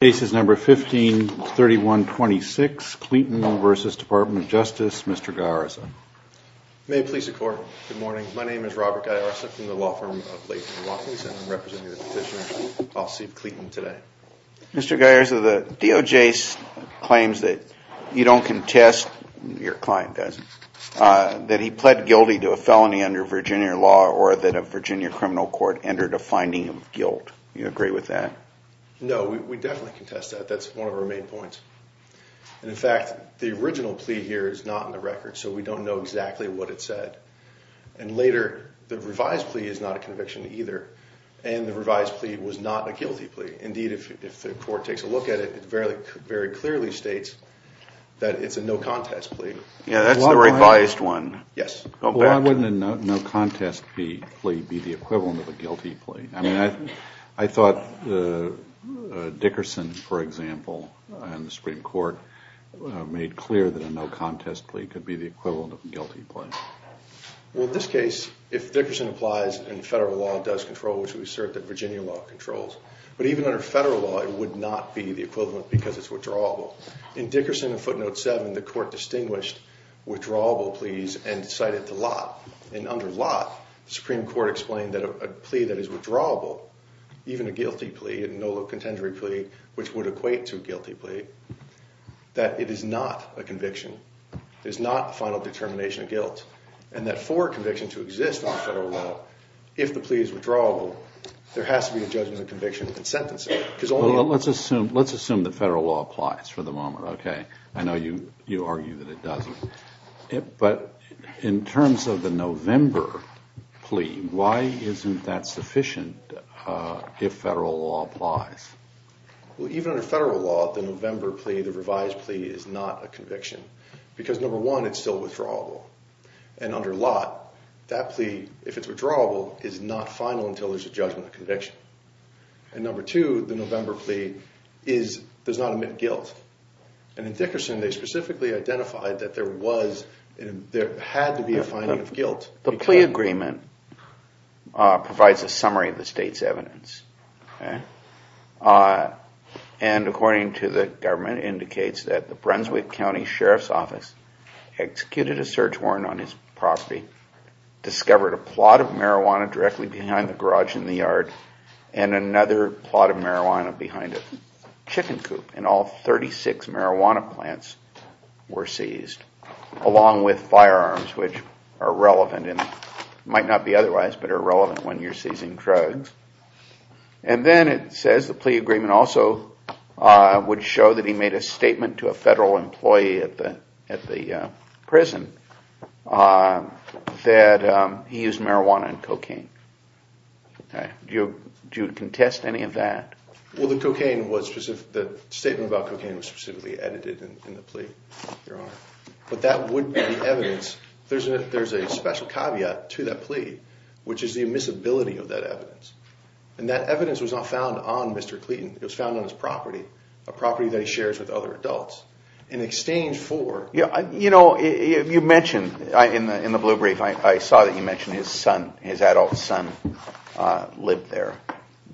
D.O.J.'s claims that you don't contest, your client does, that he pled guilty to a felony under Virginia law or that a Virginia criminal court entered a finding of guilt. You agree with that? No, we definitely contest that. That's one of our main points. In fact, the original plea here is not in the record, so we don't know exactly what it said. And later, the revised plea is not a conviction either, and the revised plea was not a guilty plea. Indeed, if the court takes a look at it, it very clearly states that it's a no contest plea. Yeah, that's the revised one. Yes. Well, why wouldn't a no contest plea be the equivalent of a guilty plea? I mean, I thought Dickerson, for example, in the Supreme Court, made clear that a no contest plea could be the equivalent of a guilty plea. Well, in this case, if Dickerson applies and federal law does control, which we assert that Virginia law controls, but even under federal law, it would not be the equivalent because it's withdrawable. In Dickerson and footnote 7, the court distinguished withdrawable pleas and cited the lot. And under lot, the Supreme Court explained that a plea that is withdrawable, even a guilty plea, a no contender plea, which would equate to a guilty plea, that it is not a conviction. It is not a final determination of guilt. And that for a conviction to exist on federal law, if the plea is withdrawable, there has to be a judgment of conviction and sentencing. Well, let's assume that federal law applies for the moment, okay? I know you argue that it doesn't. But in terms of the November plea, why isn't that sufficient if federal law applies? Well, even under federal law, the November plea, the revised plea, is not a conviction. Because number one, it's still withdrawable. And under lot, that plea, if it's withdrawable, is not final until there's a judgment of conviction. And number two, the November plea does not omit guilt. And in Dickerson, they specifically identified that there had to be a finding of guilt. The plea agreement provides a summary of the state's evidence. And according to the government, it indicates that the Brunswick County Sheriff's Office executed a search warrant on his property, discovered a plot of marijuana directly behind the garage in the yard, and another plot of marijuana behind a chicken coop. And all 36 marijuana plants were seized, along with firearms, which are relevant and might not be otherwise, but are relevant when you're seizing drugs. And then it says the plea agreement also would show that he made a statement to a federal employee at the prison that he used marijuana and cocaine. Do you contest any of that? Well, the statement about cocaine was specifically edited in the plea, Your Honor. But that would be evidence. There's a special caveat to that plea, which is the immiscibility of that evidence. And that evidence was not found on Mr. Clayton. It was found on his property, a property that he shares with other adults. In exchange for... You know, you mentioned in the blue brief, I saw that you mentioned his son, his adult son lived there.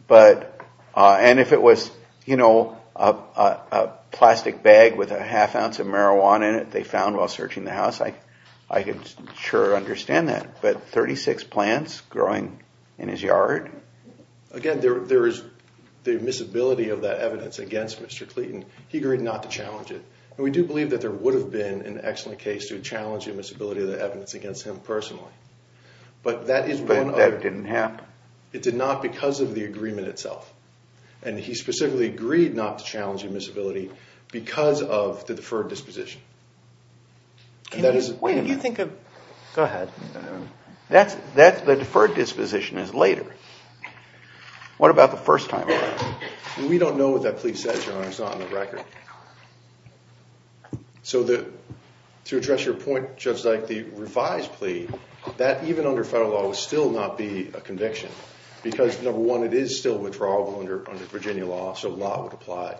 And if it was, you know, a plastic bag with a half ounce of marijuana in it they found while searching the house, I could sure understand that. But 36 plants growing in his yard? Again, there is the immiscibility of that evidence against Mr. Clayton. He agreed not to challenge it. And we do believe that there would have been an excellent case to challenge the immiscibility of the evidence against him personally. But that is one of... But that didn't happen? It did not because of the agreement itself. And he specifically agreed not to challenge the immiscibility because of the deferred disposition. Wait a minute. Go ahead. The deferred disposition is later. What about the first time around? We don't know what that plea says, Your Honor. It's not on the record. So to address your point, just like the revised plea, that even under federal law would still not be a conviction. Because number one, it is still withdrawable under Virginia law, so the law would apply.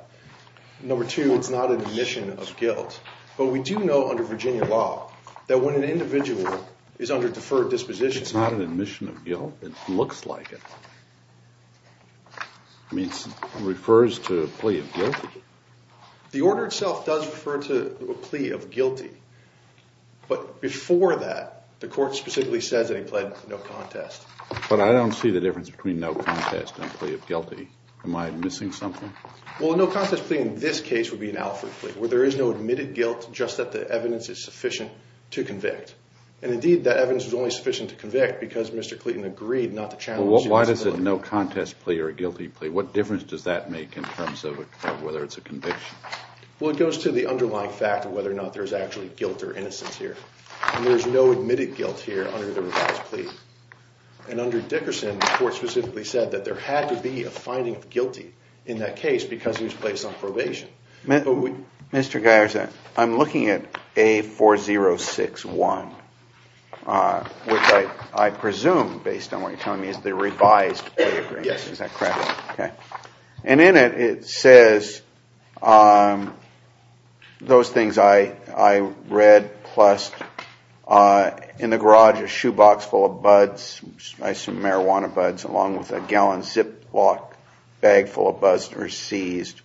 Number two, it's not an admission of guilt. But we do know under Virginia law that when an individual is under deferred disposition... It's not an admission of guilt? It looks like it. I mean, it refers to a plea of guilt? The order itself does refer to a plea of guilty. But before that, the court specifically says that he pled no contest. But I don't see the difference between no contest and a plea of guilty. Am I missing something? Well, a no contest plea in this case would be an Alfred plea, where there is no admitted guilt, just that the evidence is sufficient to convict. And indeed, that evidence is only sufficient to convict because Mr. Clayton agreed not to challenge the immiscibility. Well, why is it a no contest plea or a guilty plea? What difference does that make in terms of whether it's a conviction? Well, it goes to the underlying fact of whether or not there's actually guilt or innocence here. And there's no admitted guilt here under the revised plea. And under Dickerson, the court specifically said that there had to be a finding of guilty in that case because he was placed on probation. Mr. Geiser, I'm looking at A4061, which I presume, based on what you're telling me, is the revised plea agreement. Yes. And in it, it says those things I read, plus in the garage a shoebox full of marijuana buds along with a gallon Ziploc bag full of buzzed or seized.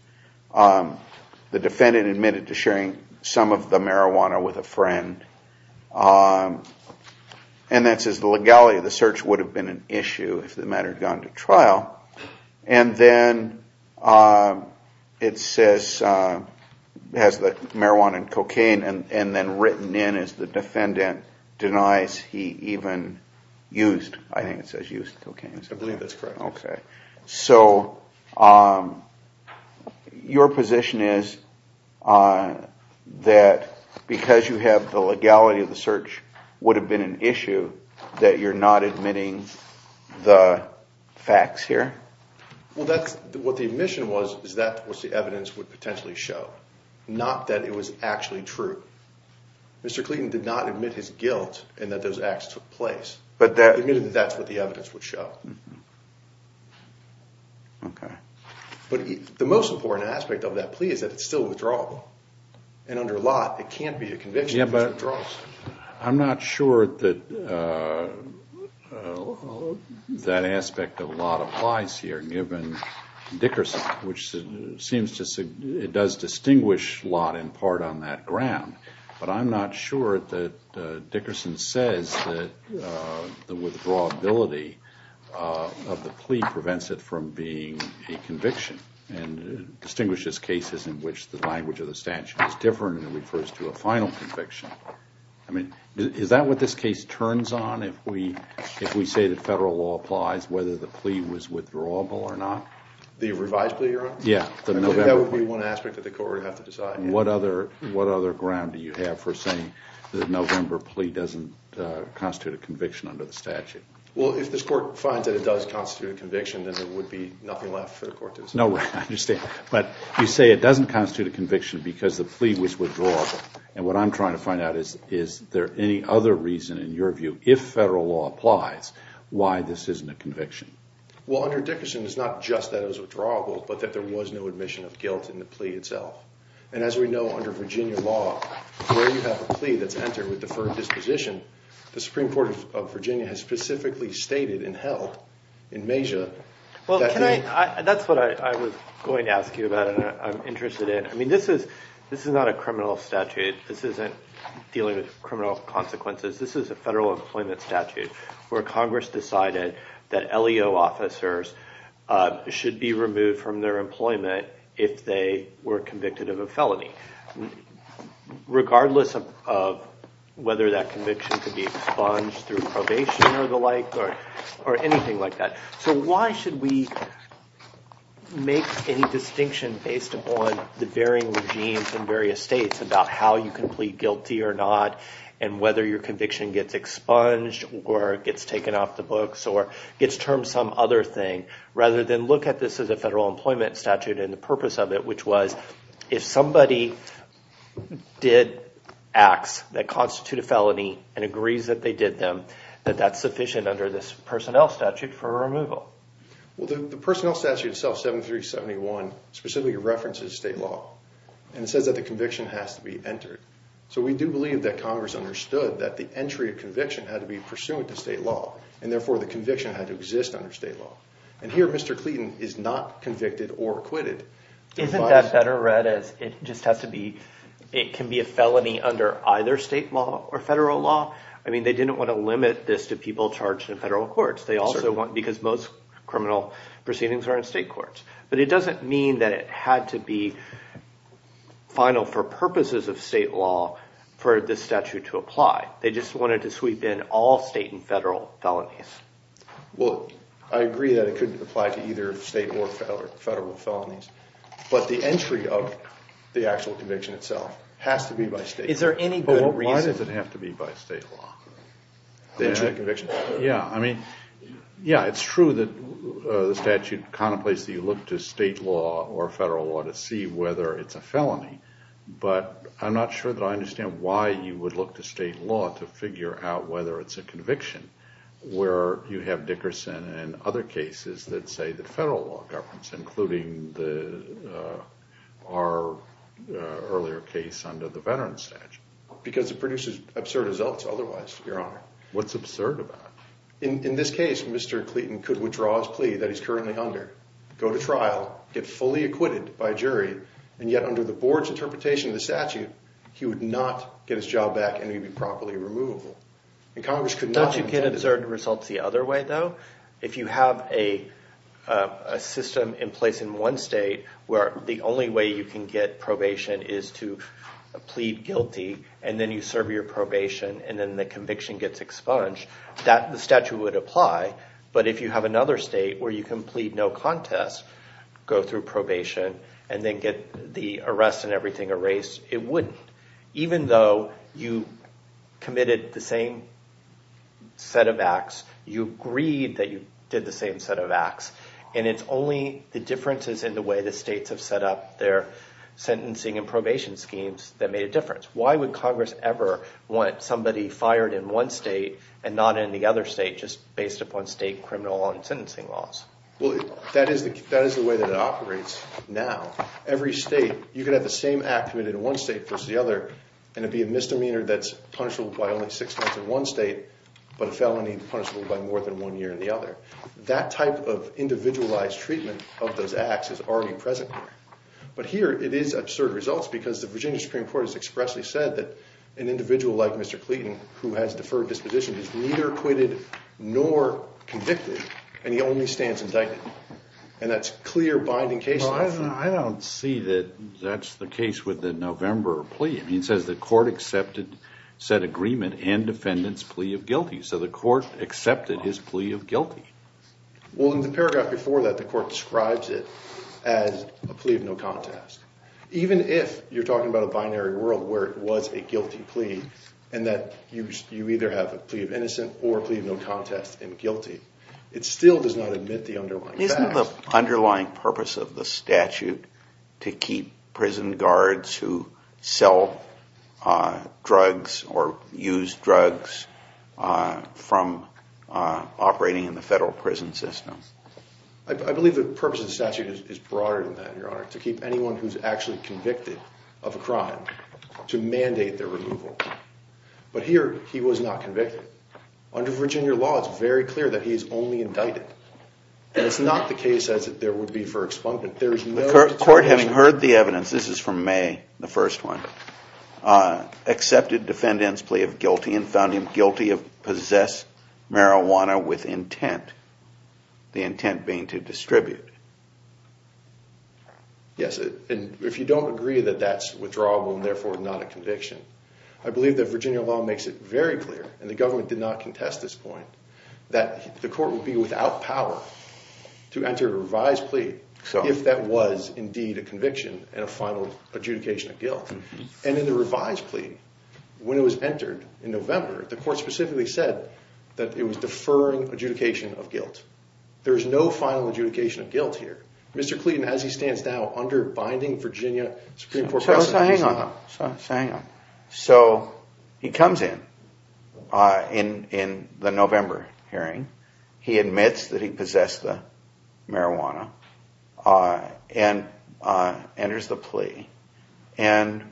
The defendant admitted to sharing some of the marijuana with a friend. And that says the legality of the search would have been an issue if the matter had gone to trial. And then it says, has the marijuana and cocaine. And then written in is the defendant denies he even used, I think it says used cocaine. I believe that's correct. Okay. So your position is that because you have the legality of the search would have been an issue that you're not admitting the facts here? Well, that's what the admission was, is that was the evidence would potentially show. Not that it was actually true. Mr. Clayton did not admit his guilt in that those acts took place. He admitted that that's what the evidence would show. Okay. But the most important aspect of that plea is that it's still withdrawable. And under lot, it can't be a conviction because it withdraws. I'm not sure that that aspect of lot applies here, given Dickerson, which seems to say it does distinguish lot in part on that ground. But I'm not sure that Dickerson says that the withdrawability of the plea prevents it from being a conviction and distinguishes cases in which the language of the statute is different and refers to a final conviction. I mean, is that what this case turns on if we say that federal law applies, whether the plea was withdrawable or not? The revised plea, Your Honor? Yeah. That would be one aspect that the court would have to decide. What other ground do you have for saying the November plea doesn't constitute a conviction under the statute? Well, if this court finds that it does constitute a conviction, then there would be nothing left for the court to decide. No, I understand. But you say it doesn't constitute a conviction because the plea was withdrawable. And what I'm trying to find out is, is there any other reason, in your view, if federal law applies, why this isn't a conviction? Well, under Dickerson, it's not just that it was withdrawable, but that there was no admission of guilt in the plea itself. And as we know, under Virginia law, where you have a plea that's entered with deferred disposition, the Supreme Court of Virginia has specifically stated and held in Mejia that the— Well, can I—that's what I was going to ask you about and I'm interested in. I mean, this is not a criminal statute. This isn't dealing with criminal consequences. This is a federal employment statute where Congress decided that LEO officers should be removed from their employment if they were convicted of a felony, regardless of whether that conviction could be expunged through probation or the like or anything like that. So why should we make any distinction based upon the varying regimes in various states about how you can plead guilty or not and whether your conviction gets expunged or gets taken off the books or gets termed some other thing rather than look at this as a federal employment statute and the purpose of it, which was if somebody did acts that constitute a felony and agrees that they did them, that that's sufficient under this personnel statute for a removal? Well, the personnel statute itself, 7371, specifically references state law. And it says that the conviction has to be entered. So we do believe that Congress understood that the entry of conviction had to be pursuant to state law and therefore the conviction had to exist under state law. And here Mr. Clayton is not convicted or acquitted. Isn't that better read as it just has to be, it can be a felony under either state law or federal law? I mean, they didn't want to limit this to people charged in federal courts. They also want, because most criminal proceedings are in state courts. But it doesn't mean that it had to be final for purposes of state law for this statute to apply. They just wanted to sweep in all state and federal felonies. Well, I agree that it could apply to either state or federal felonies. But the entry of the actual conviction itself has to be by state. Is there any good reason? Why does it have to be by state law? The entry of conviction? Yeah, I mean, yeah, it's true that the statute contemplates that you look to state law or federal law to see whether it's a felony. But I'm not sure that I understand why you would look to state law to figure out whether it's a conviction where you have Dickerson and other cases that say the federal law governs, including our earlier case under the veteran statute. Because it produces absurd results otherwise, Your Honor. What's absurd about it? In this case, Mr. Clayton could withdraw his plea that he's currently under, go to trial, get fully acquitted by jury, and yet under the board's interpretation of the statute, he would not get his job back and he'd be properly removable. Not to get absurd results the other way, though. If you have a system in place in one state where the only way you can get probation is to plead guilty and then you serve your probation and then the conviction gets expunged, the statute would apply. But if you have another state where you can plead no contest, go through probation, and then get the arrest and everything erased, it wouldn't. Even though you committed the same set of acts, you agreed that you did the same set of acts, and it's only the differences in the way the states have set up their sentencing and probation schemes that made a difference. Why would Congress ever want somebody fired in one state and not in the other state just based upon state criminal law and sentencing laws? Well, that is the way that it operates now. You could have the same act committed in one state versus the other, and it'd be a misdemeanor that's punishable by only six months in one state, but a felony punishable by more than one year in the other. That type of individualized treatment of those acts is already present there. But here it is absurd results because the Virginia Supreme Court has expressly said that an individual like Mr. Clayton, who has deferred disposition, is neither acquitted nor convicted, and he only stands indicted. And that's clear binding cases. Well, I don't see that that's the case with the November plea. I mean, it says the court accepted said agreement and defendant's plea of guilty, so the court accepted his plea of guilty. Well, in the paragraph before that, the court describes it as a plea of no contest. Even if you're talking about a binary world where it was a guilty plea and that you either have a plea of innocent or a plea of no contest and guilty, it still does not admit the underlying facts. Isn't the underlying purpose of the statute to keep prison guards who sell drugs or use drugs from operating in the federal prison system? I believe the purpose of the statute is broader than that, Your Honor, to keep anyone who's actually convicted of a crime to mandate their removal. But here he was not convicted. Under Virginia law, it's very clear that he's only indicted, and it's not the case as if there would be for expungment. The court, having heard the evidence, this is from May, the first one, accepted defendant's plea of guilty and found him guilty of possess marijuana with intent, the intent being to distribute. Yes, and if you don't agree that that's withdrawable and therefore not a conviction, I believe that Virginia law makes it very clear, and the government did not contest this point, that the court would be without power to enter a revised plea if that was indeed a conviction and a final adjudication of guilt. And in the revised plea, when it was entered in November, the court specifically said that it was deferring adjudication of guilt. There is no final adjudication of guilt here. Mr. Clayton, as he stands now, under binding Virginia Supreme Court precedent... So hang on, so hang on. So he comes in, in the November hearing. He admits that he possessed the marijuana and enters the plea. And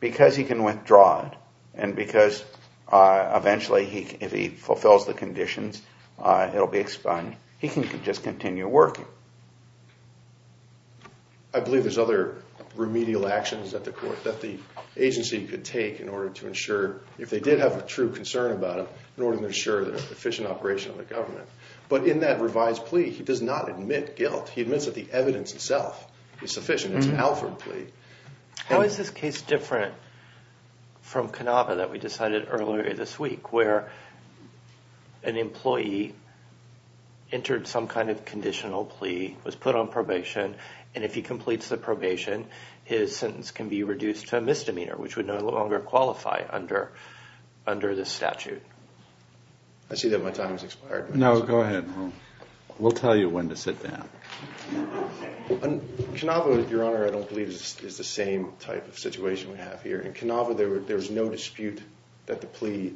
because he can withdraw it, and because eventually if he fulfills the conditions, it'll be expunged, he can just continue working. I believe there's other remedial actions that the agency could take in order to ensure, if they did have a true concern about it, in order to ensure the efficient operation of the government. But in that revised plea, he does not admit guilt. He admits that the evidence itself is sufficient. It's an Alfred plea. How is this case different from Cannava that we decided earlier this week, where an employee entered some kind of conditional plea, was put on probation, and if he completes the probation, his sentence can be reduced to a misdemeanor, which would no longer qualify under this statute? I see that my time has expired. No, go ahead. We'll tell you when to sit down. Cannava, Your Honor, I don't believe is the same type of situation we have here. In Cannava, there was no dispute that the plea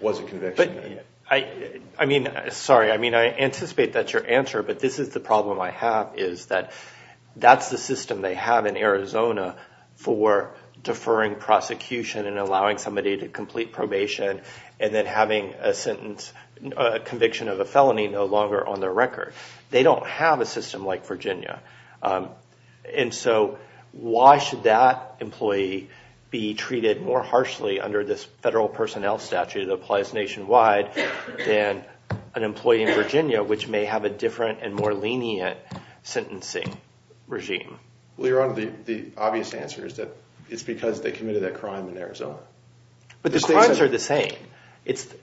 was a conviction. I mean, sorry, I anticipate that's your answer, but this is the problem I have, is that that's the system they have in Arizona for deferring prosecution and allowing somebody to complete probation, and then having a conviction of a felony no longer on their record. They don't have a system like Virginia. And so why should that employee be treated more harshly under this federal personnel statute that applies nationwide than an employee in Virginia, which may have a different and more lenient sentencing regime? Well, Your Honor, the obvious answer is that it's because they committed that crime in Arizona. But the crimes are the same.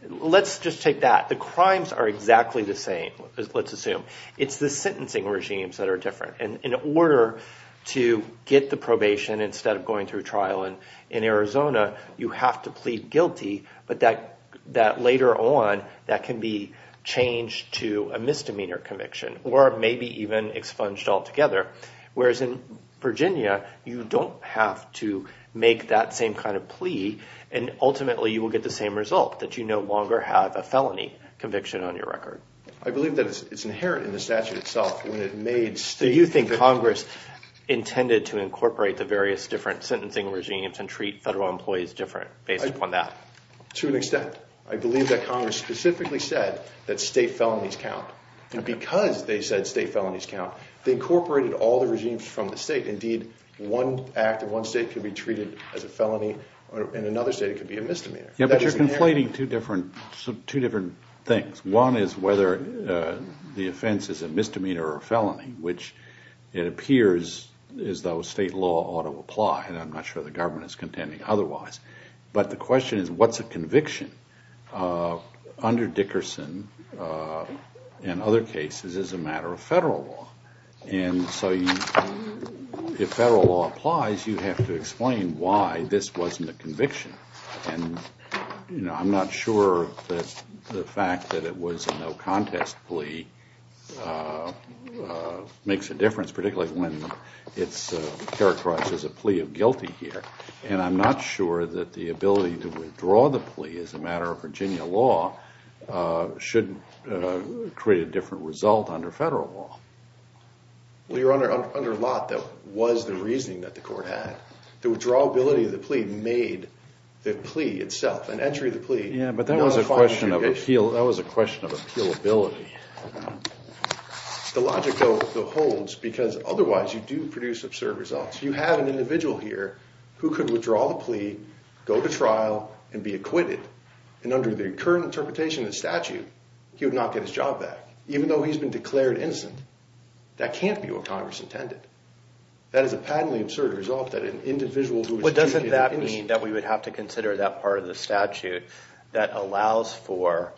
Let's just take that. The crimes are exactly the same, let's assume. It's the sentencing regimes that are different. And in order to get the probation instead of going through trial in Arizona, you have to plead guilty, but that later on, that can be changed to a misdemeanor conviction or maybe even expunged altogether. Whereas in Virginia, you don't have to make that same kind of plea, and ultimately you will get the same result, that you no longer have a felony conviction on your record. I believe that it's inherent in the statute itself. Do you think Congress intended to incorporate the various different sentencing regimes and treat federal employees different based upon that? To an extent. I believe that Congress specifically said that state felonies count. And because they said state felonies count, they incorporated all the regimes from the state. Indeed, one act in one state can be treated as a felony. In another state, it can be a misdemeanor. Yeah, but you're conflating two different things. One is whether the offense is a misdemeanor or a felony, which it appears as though state law ought to apply, and I'm not sure the government is contending otherwise. But the question is, what's a conviction? Under Dickerson and other cases, it's a matter of federal law. And so if federal law applies, you have to explain why this wasn't a conviction. And I'm not sure that the fact that it was a no-contest plea makes a difference, particularly when it's characterized as a plea of guilty here. And I'm not sure that the ability to withdraw the plea as a matter of Virginia law should create a different result under federal law. Well, you're under a lot that was the reasoning that the court had. The withdrawability of the plea made the plea itself, an entry of the plea. Yeah, but that was a question of appealability. The logic, though, holds because otherwise you do produce absurd results. You have an individual here who could withdraw the plea, go to trial, and be acquitted. And under the current interpretation of the statute, he would not get his job back, even though he's been declared innocent. That can't be what Congress intended. That is a patently absurd result that an individual who is— But doesn't that mean that we would have to consider that part of the statute that allows for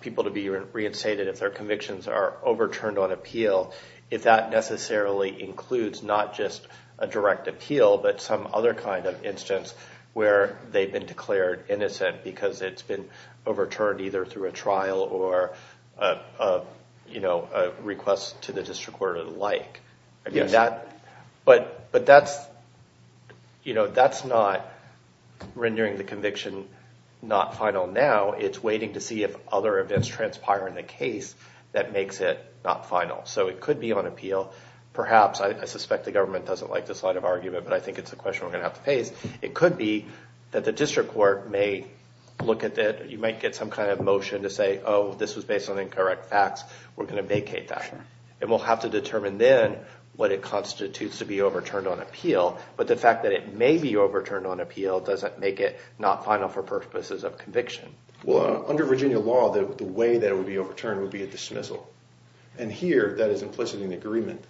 people to be reinstated if their convictions are overturned on appeal, if that necessarily includes not just a direct appeal but some other kind of instance where they've been declared innocent because it's been overturned either through a trial or a request to the district court or the like? Yes. But that's not rendering the conviction not final now. It's waiting to see if other events transpire in the case that makes it not final. So it could be on appeal. But I think it's a question we're going to have to face. It could be that the district court may look at that. You might get some kind of motion to say, oh, this was based on incorrect facts. We're going to vacate that. And we'll have to determine then what it constitutes to be overturned on appeal. But the fact that it may be overturned on appeal doesn't make it not final for purposes of conviction. Well, under Virginia law, the way that it would be overturned would be a dismissal. And here that is implicit in agreement.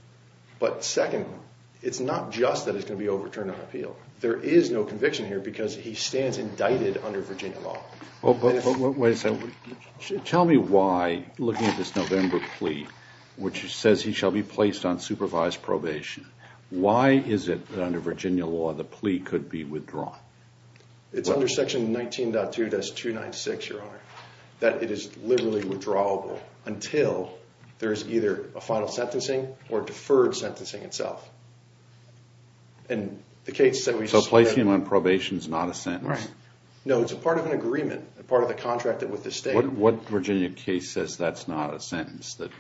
But second, it's not just that it's going to be overturned on appeal. There is no conviction here because he stands indicted under Virginia law. Tell me why, looking at this November plea, which says he shall be placed on supervised probation, why is it that under Virginia law the plea could be withdrawn? It's under Section 19.2-296, Your Honor, that it is liberally withdrawable until there is either a final sentencing or deferred sentencing itself. So placing him on probation is not a sentence? No, it's part of an agreement, part of the contract with the state. What Virginia case says that's not a sentence, that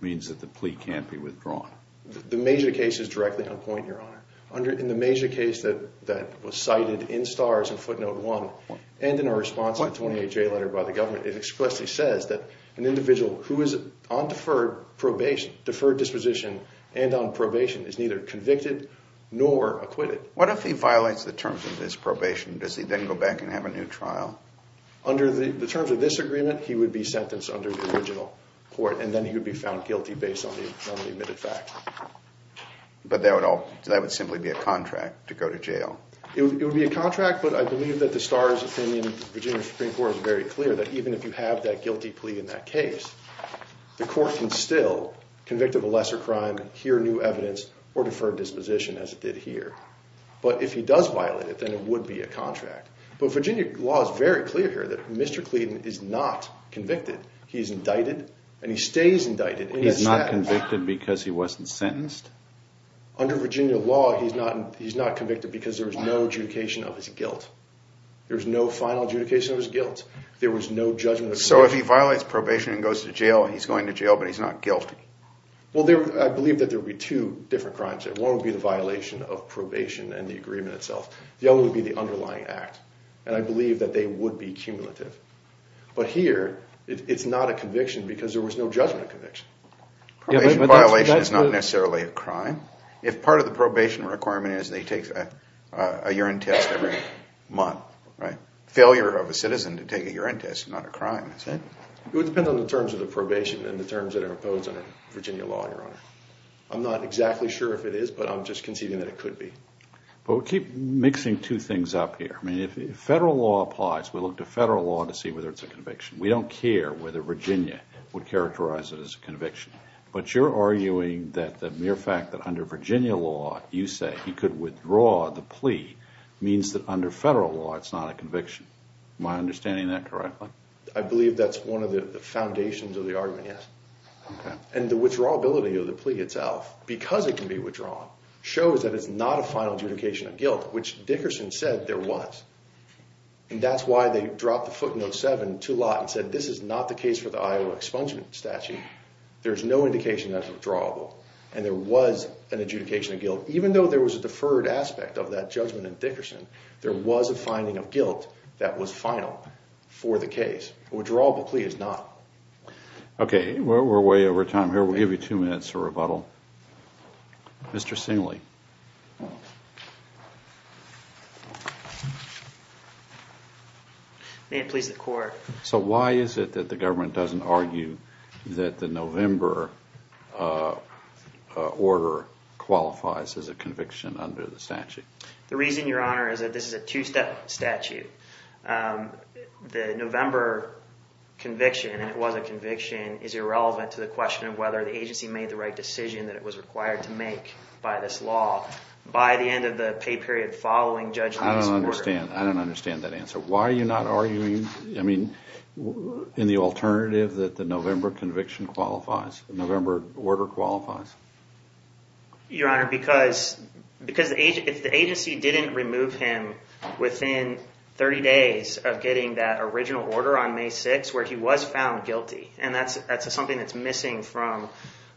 means that the plea can't be withdrawn? The Major case is directly on point, Your Honor. In the Major case that was cited in STARS in footnote 1 and in our response to the 28-J letter by the government, it expressly says that an individual who is on deferred probation, deferred disposition, and on probation is neither convicted nor acquitted. What if he violates the terms of this probation? Does he then go back and have a new trial? Under the terms of this agreement, he would be sentenced under the original court, and then he would be found guilty based on the admitted fact. But that would simply be a contract to go to jail? It would be a contract, but I believe that the STARS opinion, the Virginia Supreme Court is very clear that even if you have that guilty plea in that case, the court can still convict of a lesser crime, hear new evidence, or deferred disposition as it did here. But if he does violate it, then it would be a contract. But Virginia law is very clear here that Mr. Cleden is not convicted. He is indicted, and he stays indicted. He's not convicted because he wasn't sentenced? Under Virginia law, he's not convicted because there is no adjudication of his guilt. There's no final adjudication of his guilt. There was no judgment of his guilt. So if he violates probation and goes to jail, he's going to jail, but he's not guilty? Well, I believe that there would be two different crimes there. One would be the violation of probation and the agreement itself. The other would be the underlying act, and I believe that they would be cumulative. But here, it's not a conviction because there was no judgment of conviction. Probation violation is not necessarily a crime. If part of the probation requirement is that he takes a urine test every month, right? Failure of a citizen to take a urine test is not a crime, is it? It would depend on the terms of the probation and the terms that are imposed under Virginia law, Your Honor. I'm not exactly sure if it is, but I'm just conceding that it could be. But we keep mixing two things up here. I mean, if federal law applies, we look to federal law to see whether it's a conviction. We don't care whether Virginia would characterize it as a conviction. But you're arguing that the mere fact that under Virginia law you say he could withdraw the plea means that under federal law it's not a conviction. Am I understanding that correctly? I believe that's one of the foundations of the argument, yes. Okay. And the withdrawability of the plea itself, because it can be withdrawn, shows that it's not a final adjudication of guilt, which Dickerson said there was. And that's why they dropped the footnote 7 to lot and said this is not the case for the Iowa expungement statute. There's no indication that it's withdrawable, and there was an adjudication of guilt. Even though there was a deferred aspect of that judgment in Dickerson, there was a finding of guilt that was final for the case. A withdrawable plea is not. Okay. We're way over time here. We'll give you two minutes for rebuttal. Mr. Singley. May it please the Court. So why is it that the government doesn't argue that the November order qualifies as a conviction under the statute? The reason, Your Honor, is that this is a two-step statute. The November conviction, and it was a conviction, is irrelevant to the question of whether the agency made the right decision that it was required to make by this law. By the end of the pay period following judgment of this order. I don't understand. I don't understand that answer. Why are you not arguing, I mean, in the alternative that the November conviction qualifies, the November order qualifies? Your Honor, because if the agency didn't remove him within 30 days of getting that original order on May 6th, where he was found guilty, and that's something that's missing from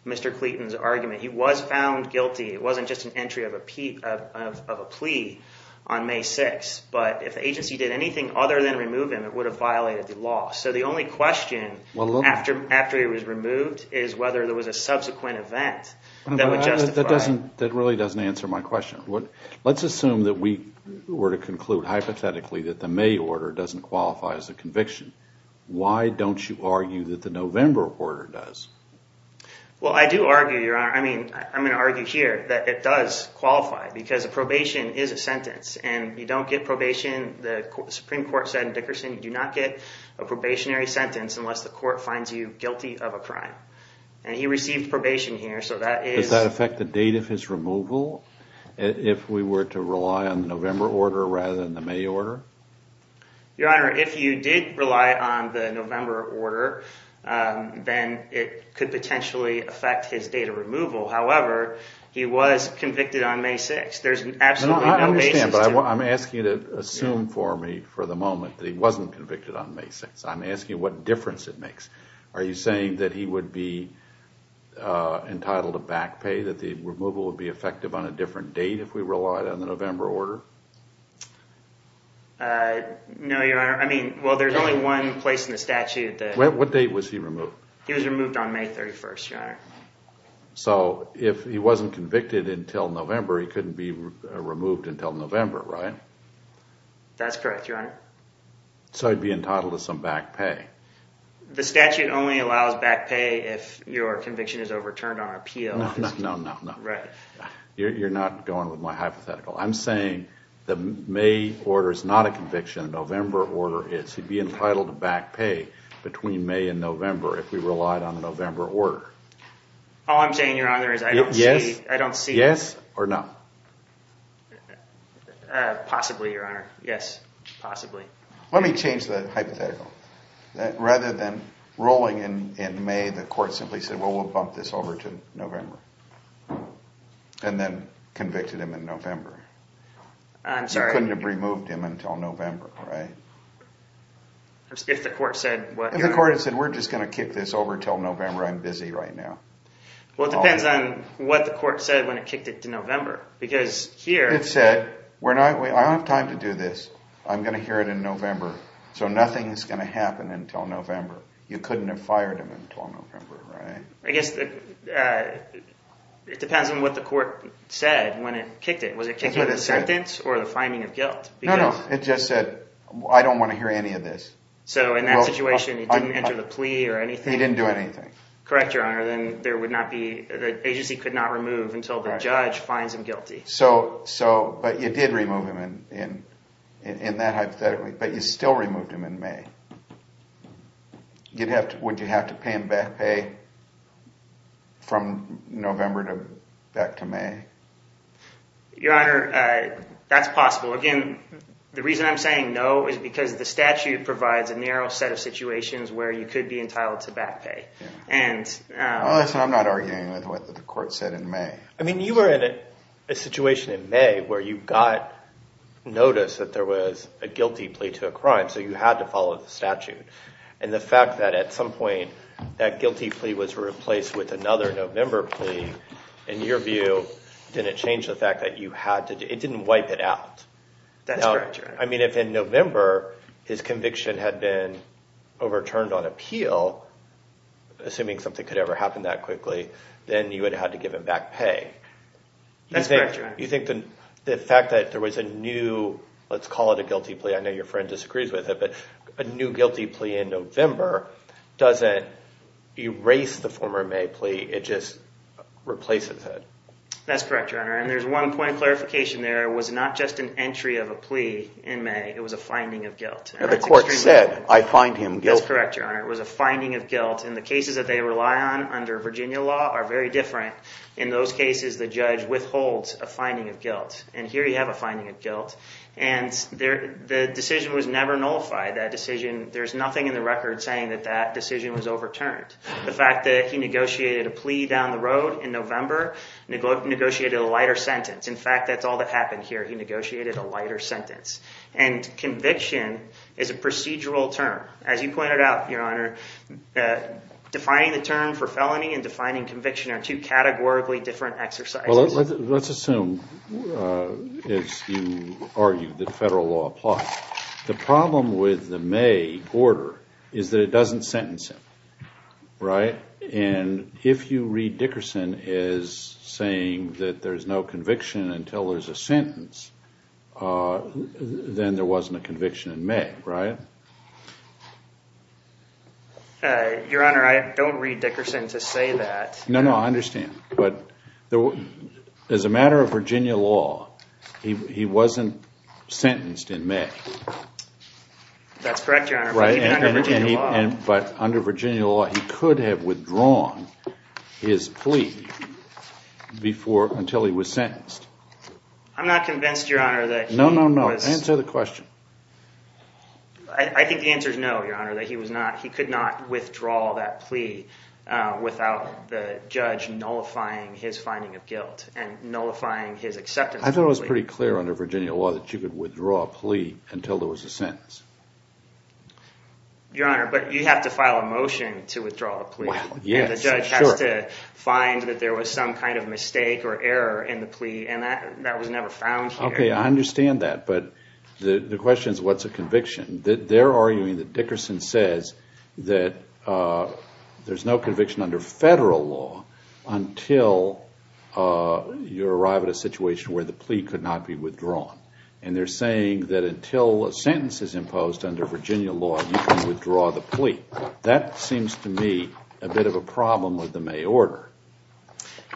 Mr. Clayton's argument. He was found guilty. It wasn't just an entry of a plea on May 6th. But if the agency did anything other than remove him, it would have violated the law. So the only question after he was removed is whether there was a subsequent event that would justify. That really doesn't answer my question. Let's assume that we were to conclude hypothetically that the May order doesn't qualify as a conviction. Why don't you argue that the November order does? Well, I do argue, Your Honor. I mean, I'm going to argue here that it does qualify because a probation is a sentence. And you don't get probation, the Supreme Court said in Dickerson, you do not get a probationary sentence unless the court finds you guilty of a crime. And he received probation here, so that is. Does that affect the date of his removal if we were to rely on the November order rather than the May order? Your Honor, if you did rely on the November order, then it could potentially affect his date of removal. However, he was convicted on May 6th. I understand, but I'm asking you to assume for me for the moment that he wasn't convicted on May 6th. I'm asking you what difference it makes. Are you saying that he would be entitled to back pay, that the removal would be effective on a different date if we relied on the November order? No, Your Honor. I mean, well, there's only one place in the statute. What date was he removed? He was removed on May 31st, Your Honor. So if he wasn't convicted until November, he couldn't be removed until November, right? That's correct, Your Honor. So he'd be entitled to some back pay. The statute only allows back pay if your conviction is overturned on appeal. No, no, no, no, no. Right. You're not going with my hypothetical. I'm saying the May order is not a conviction. The November order is. He'd be entitled to back pay between May and November if we relied on the November order. All I'm saying, Your Honor, is I don't see. Yes or no? Possibly, Your Honor. Yes, possibly. Let me change the hypothetical. Rather than rolling in May, the court simply said, well, we'll bump this over to November, and then convicted him in November. I'm sorry. You couldn't have removed him until November, right? If the court said what? If the court had said, we're just going to kick this over until November. I'm busy right now. Well, it depends on what the court said when it kicked it to November. Because here. It said, I don't have time to do this. I'm going to hear it in November. So nothing is going to happen until November. You couldn't have fired him until November, right? I guess it depends on what the court said when it kicked it. Was it kicking of the sentence or the finding of guilt? No, no. It just said, I don't want to hear any of this. So in that situation, it didn't enter the plea or anything? It didn't do anything. Correct, Your Honor. Then there would not be, the agency could not remove until the judge finds him guilty. So, but you did remove him in that hypothetical. But you still removed him in May. Would you have to pay him back pay from November back to May? Your Honor, that's possible. Again, the reason I'm saying no is because the statute provides a narrow set of situations where you could be entitled to back pay. I'm not arguing with what the court said in May. I mean, you were in a situation in May where you got notice that there was a guilty plea to a crime. So you had to follow the statute. And the fact that at some point that guilty plea was replaced with another November plea, in your view, didn't change the fact that you had to, it didn't wipe it out. That's correct, Your Honor. I mean, if in November his conviction had been overturned on appeal, assuming something could ever happen that quickly, then you would have had to give him back pay. That's correct, Your Honor. You think the fact that there was a new, let's call it a guilty plea. I know your friend disagrees with it. But a new guilty plea in November doesn't erase the former May plea. It just replaces it. That's correct, Your Honor. And there's one point of clarification there. It was not just an entry of a plea in May. It was a finding of guilt. The court said, I find him guilty. That's correct, Your Honor. It was a finding of guilt. And the cases that they rely on under Virginia law are very different. In those cases, the judge withholds a finding of guilt. And here you have a finding of guilt. And the decision was never nullified. That decision, there's nothing in the record saying that that decision was overturned. The fact that he negotiated a plea down the road in November negotiated a lighter sentence. In fact, that's all that happened here. He negotiated a lighter sentence. And conviction is a procedural term. As you pointed out, Your Honor, defining the term for felony and defining conviction are two categorically different exercises. Well, let's assume, as you argue, that federal law applies. The problem with the May order is that it doesn't sentence him. Right? And if you read Dickerson as saying that there's no conviction until there's a sentence, then there wasn't a conviction in May, right? Your Honor, I don't read Dickerson to say that. No, no, I understand. But as a matter of Virginia law, he wasn't sentenced in May. That's correct, Your Honor. But under Virginia law, he could have withdrawn his plea until he was sentenced. I'm not convinced, Your Honor, that he was... No, no, no. Answer the question. I think the answer is no, Your Honor, that he could not withdraw that plea without the judge nullifying his finding of guilt and nullifying his acceptance of the plea. I thought it was pretty clear under Virginia law that you could withdraw a plea until there was a sentence. Your Honor, but you have to file a motion to withdraw a plea. Yes, sure. And the judge has to find that there was some kind of mistake or error in the plea, and that was never found here. Okay, I understand that. But the question is, what's a conviction? They're arguing that Dickerson says that there's no conviction under federal law until you arrive at a situation where the plea could not be withdrawn. And they're saying that until a sentence is imposed under Virginia law, you can withdraw the plea. That seems to me a bit of a problem with the May order.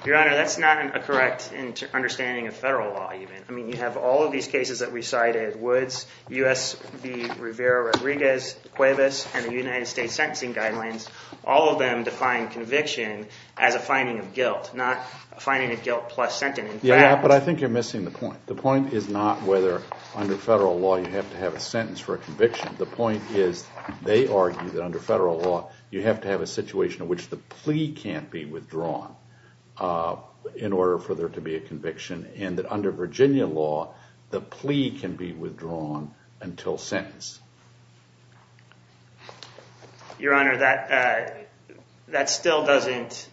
Your Honor, that's not a correct understanding of federal law, even. I mean, you have all of these cases that we cited, Woods, U.S. v. Rivera-Rodriguez, Cuevas, and the United States Sentencing Guidelines. All of them define conviction as a finding of guilt, not a finding of guilt plus sentence. Yeah, but I think you're missing the point. The point is not whether under federal law you have to have a sentence for a conviction. The point is they argue that under federal law you have to have a situation in which the plea can't be withdrawn in order for there to be a conviction, and that under Virginia law the plea can be withdrawn until sentence. Your Honor, that still doesn't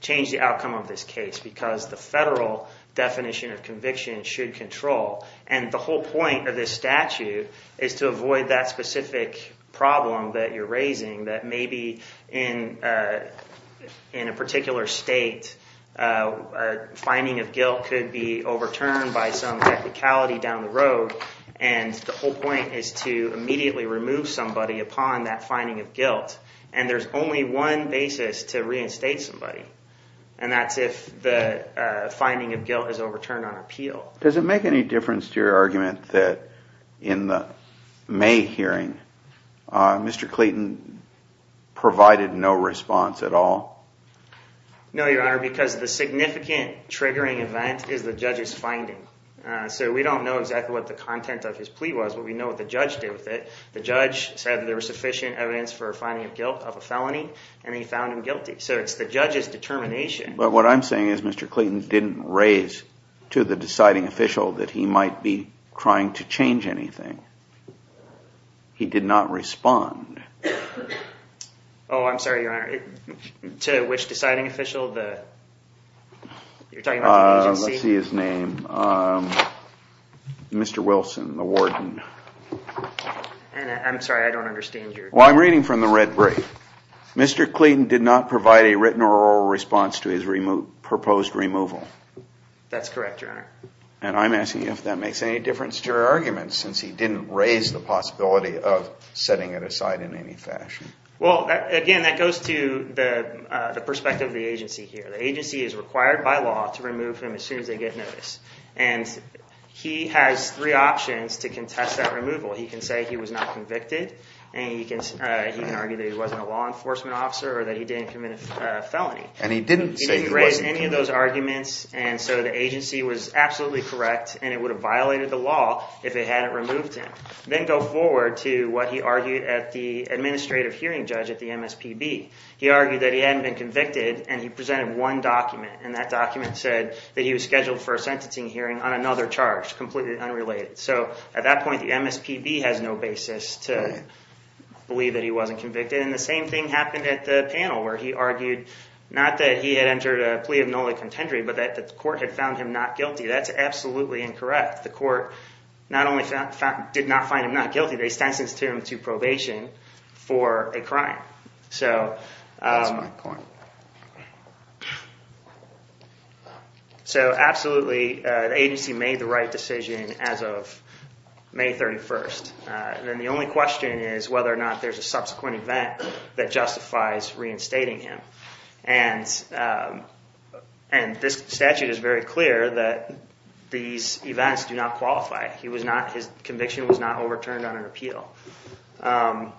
change the outcome of this case because the federal definition of conviction should control. And the whole point of this statute is to avoid that specific problem that you're raising, that maybe in a particular state a finding of guilt could be overturned by some technicality down the road. And the whole point is to immediately remove somebody upon that finding of guilt. And there's only one basis to reinstate somebody, and that's if the finding of guilt is overturned on appeal. Does it make any difference to your argument that in the May hearing Mr. Clayton provided no response at all? No, Your Honor, because the significant triggering event is the judge's finding. So we don't know exactly what the content of his plea was, but we know what the judge did with it. The judge said there was sufficient evidence for a finding of guilt of a felony, and he found him guilty. So it's the judge's determination. But what I'm saying is Mr. Clayton didn't raise to the deciding official that he might be trying to change anything. He did not respond. Oh, I'm sorry, Your Honor. To which deciding official? You're talking about the agency? Let's see his name. Mr. Wilson, the warden. I'm sorry, I don't understand your question. Well, I'm reading from the red brief. Mr. Clayton did not provide a written or oral response to his proposed removal. That's correct, Your Honor. And I'm asking you if that makes any difference to your argument since he didn't raise the possibility of setting it aside in any fashion. Well, again, that goes to the perspective of the agency here. The agency is required by law to remove him as soon as they get notice, and he has three options to contest that removal. He can say he was not convicted, and he can argue that he wasn't a law enforcement officer or that he didn't commit a felony. And he didn't say he wasn't convicted. He didn't raise any of those arguments, and so the agency was absolutely correct, and it would have violated the law if they hadn't removed him. Then go forward to what he argued at the administrative hearing judge at the MSPB. He argued that he hadn't been convicted, and he presented one document, and that document said that he was scheduled for a sentencing hearing on another charge, completely unrelated. So at that point, the MSPB has no basis to believe that he wasn't convicted. And the same thing happened at the panel where he argued not that he had entered a plea of null and contendory, but that the court had found him not guilty. That's absolutely incorrect. The court not only did not find him not guilty, they sentenced him to probation for a crime. So absolutely, the agency made the right decision as of May 31st. And then the only question is whether or not there's a subsequent event that justifies reinstating him. And this statute is very clear that these events do not qualify. His conviction was not overturned on an appeal. How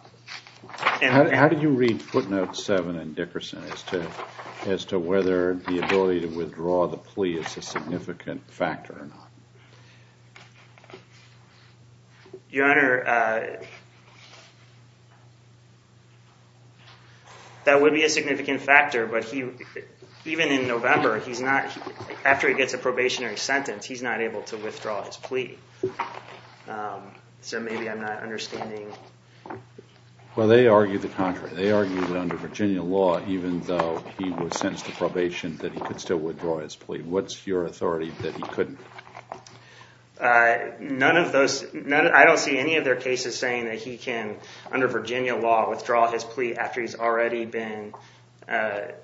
do you read footnote 7 in Dickerson as to whether the ability to withdraw the plea is a significant factor or not? Your Honor, that would be a significant factor, but even in November, after he gets a probationary sentence, he's not able to withdraw his plea. So maybe I'm not understanding. Well, they argue the contrary. They argue that under Virginia law, even though he was sentenced to probation, that he could still withdraw his plea. What's your authority that he couldn't? I don't see any of their cases saying that he can, under Virginia law, withdraw his plea after he's already been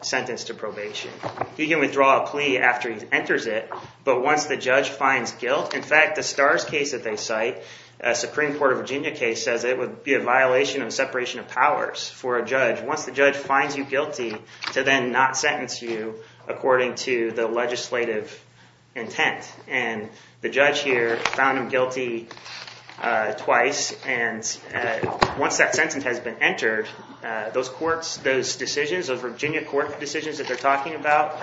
sentenced to probation. He can withdraw a plea after he enters it, but once the judge finds guilt— in fact, the Starrs case that they cite, a Supreme Court of Virginia case, says it would be a violation of separation of powers for a judge. Once the judge finds you guilty, to then not sentence you according to the legislative intent. The judge here found him guilty twice, and once that sentence has been entered, those Virginia court decisions that they're talking about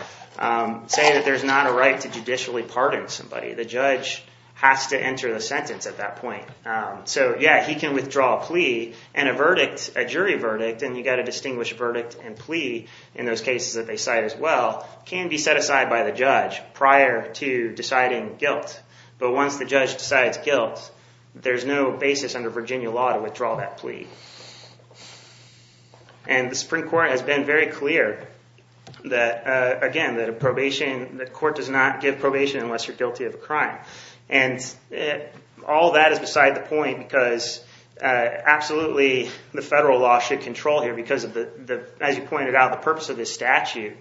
say that there's not a right to judicially pardon somebody. The judge has to enter the sentence at that point. So yeah, he can withdraw a plea, and a jury verdict—and you've got to distinguish verdict and plea in those cases that they cite as well— can be set aside by the judge prior to deciding guilt. But once the judge decides guilt, there's no basis under Virginia law to withdraw that plea. And the Supreme Court has been very clear that, again, the court does not give probation unless you're guilty of a crime. And all that is beside the point, because absolutely the federal law should control here because, as you pointed out, the purpose of this statute,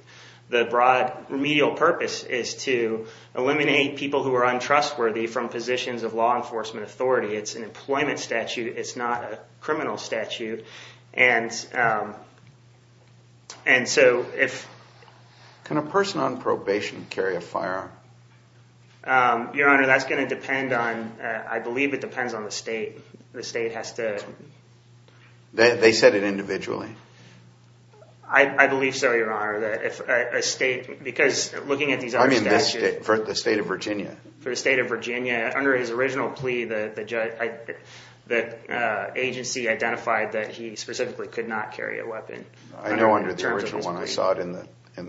the broad remedial purpose is to eliminate people who are untrustworthy from positions of law enforcement authority. It's an employment statute. It's not a criminal statute. And so if— Can a person on probation carry a firearm? Your Honor, that's going to depend on—I believe it depends on the state. The state has to— They said it individually. I believe so, Your Honor, that if a state—because looking at these other statutes— I mean the state of Virginia. For the state of Virginia, under his original plea, the agency identified that he specifically could not carry a weapon. I know under the original one I saw it in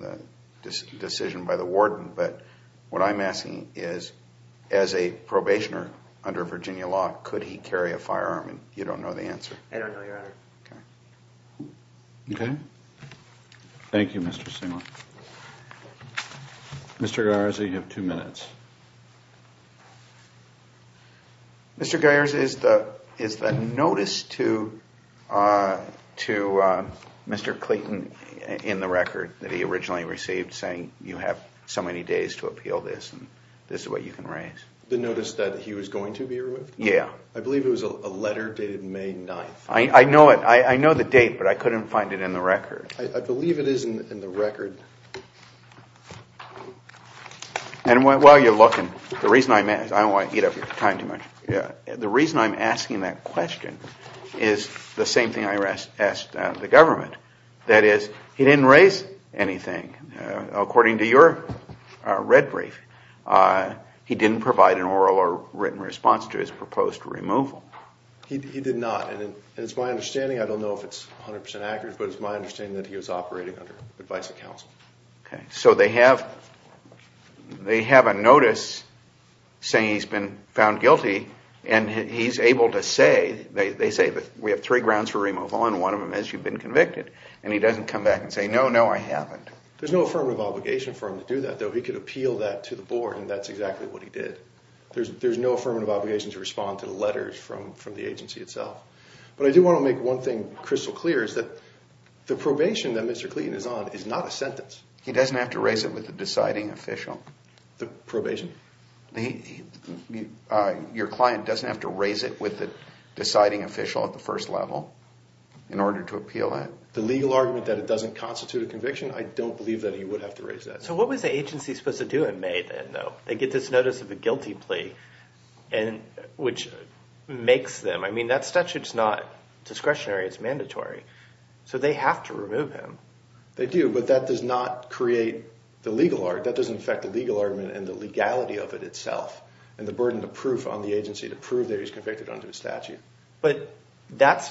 the decision by the warden. But what I'm asking is, as a probationer under Virginia law, could he carry a firearm? And you don't know the answer. I don't know, Your Honor. Okay. Thank you, Mr. Singleton. Mr. Geyers, you have two minutes. Mr. Geyers, is the notice to Mr. Clayton in the record that he originally received saying you have so many days to appeal this and this is what you can raise? The notice that he was going to be removed? Yeah. I believe it was a letter dated May 9th. I know it. I know the date, but I couldn't find it in the record. I believe it is in the record. And while you're looking, the reason I'm asking that question is the same thing I asked the government. That is, he didn't raise anything. According to your red brief, he didn't provide an oral or written response to his proposed removal. He did not. And it's my understanding, I don't know if it's 100 percent accurate, but it's my understanding that he was operating under advice of counsel. Okay. So they have a notice saying he's been found guilty, and he's able to say, they say we have three grounds for removal and one of them is you've been convicted, and he doesn't come back and say, no, no, I haven't. There's no affirmative obligation for him to do that, though. He could appeal that to the board, and that's exactly what he did. There's no affirmative obligation to respond to the letters from the agency itself. But I do want to make one thing crystal clear is that the probation that Mr. Clayton is on is not a sentence. He doesn't have to raise it with the deciding official? The probation? Your client doesn't have to raise it with the deciding official at the first level in order to appeal that? The legal argument that it doesn't constitute a conviction, I don't believe that he would have to raise that. So what was the agency supposed to do in May then, though? They get this notice of a guilty plea, which makes them, I mean, that statute's not discretionary. It's mandatory. So they have to remove him. They do, but that does not create the legal argument. That doesn't affect the legal argument and the legality of it itself and the burden of proof on the agency to prove that he's convicted under the statute. But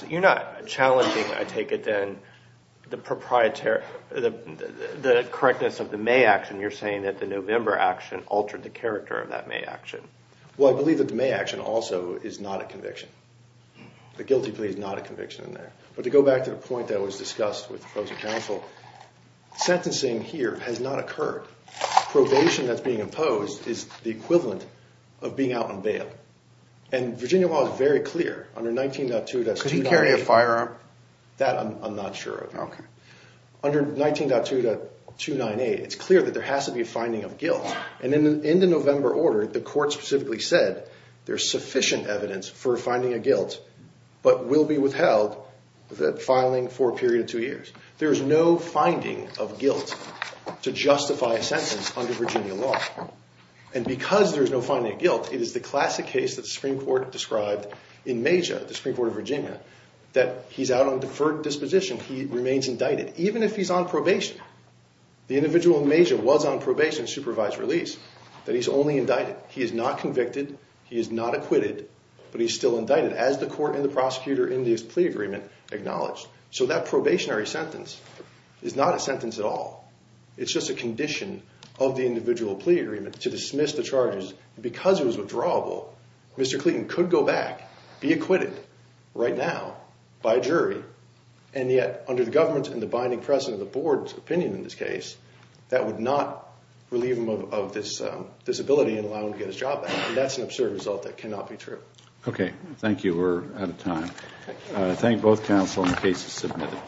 you're not challenging, I take it then, the correctness of the May action. You're saying that the November action altered the character of that May action. Well, I believe that the May action also is not a conviction. The guilty plea is not a conviction in there. But to go back to the point that was discussed with the opposing counsel, sentencing here has not occurred. Probation that's being imposed is the equivalent of being out on bail. And Virginia law is very clear. Under 19.2, that's 298. Could he carry a firearm? That I'm not sure of. Okay. Under 19.2.298, it's clear that there has to be a finding of guilt. And in the November order, the court specifically said there's sufficient evidence for finding a guilt but will be withheld for filing for a period of two years. There is no finding of guilt to justify a sentence under Virginia law. And because there's no finding of guilt, it is the classic case that the Supreme Court described in Mejia, the Supreme Court of Virginia, that he's out on deferred disposition. He remains indicted even if he's on probation. The individual in Mejia was on probation, supervised release, that he's only indicted. He is not convicted. He is not acquitted. But he's still indicted as the court and the prosecutor in this plea agreement acknowledged. So that probationary sentence is not a sentence at all. It's just a condition of the individual plea agreement to dismiss the charges. Because it was withdrawable, Mr. Clayton could go back, be acquitted right now by a jury. And yet under the government and the binding precedent of the board's opinion in this case, that would not relieve him of this disability and allow him to get his job back. And that's an absurd result that cannot be true. Okay. Thank you. We're out of time. Thank you. I thank both counsel and the case is submitted.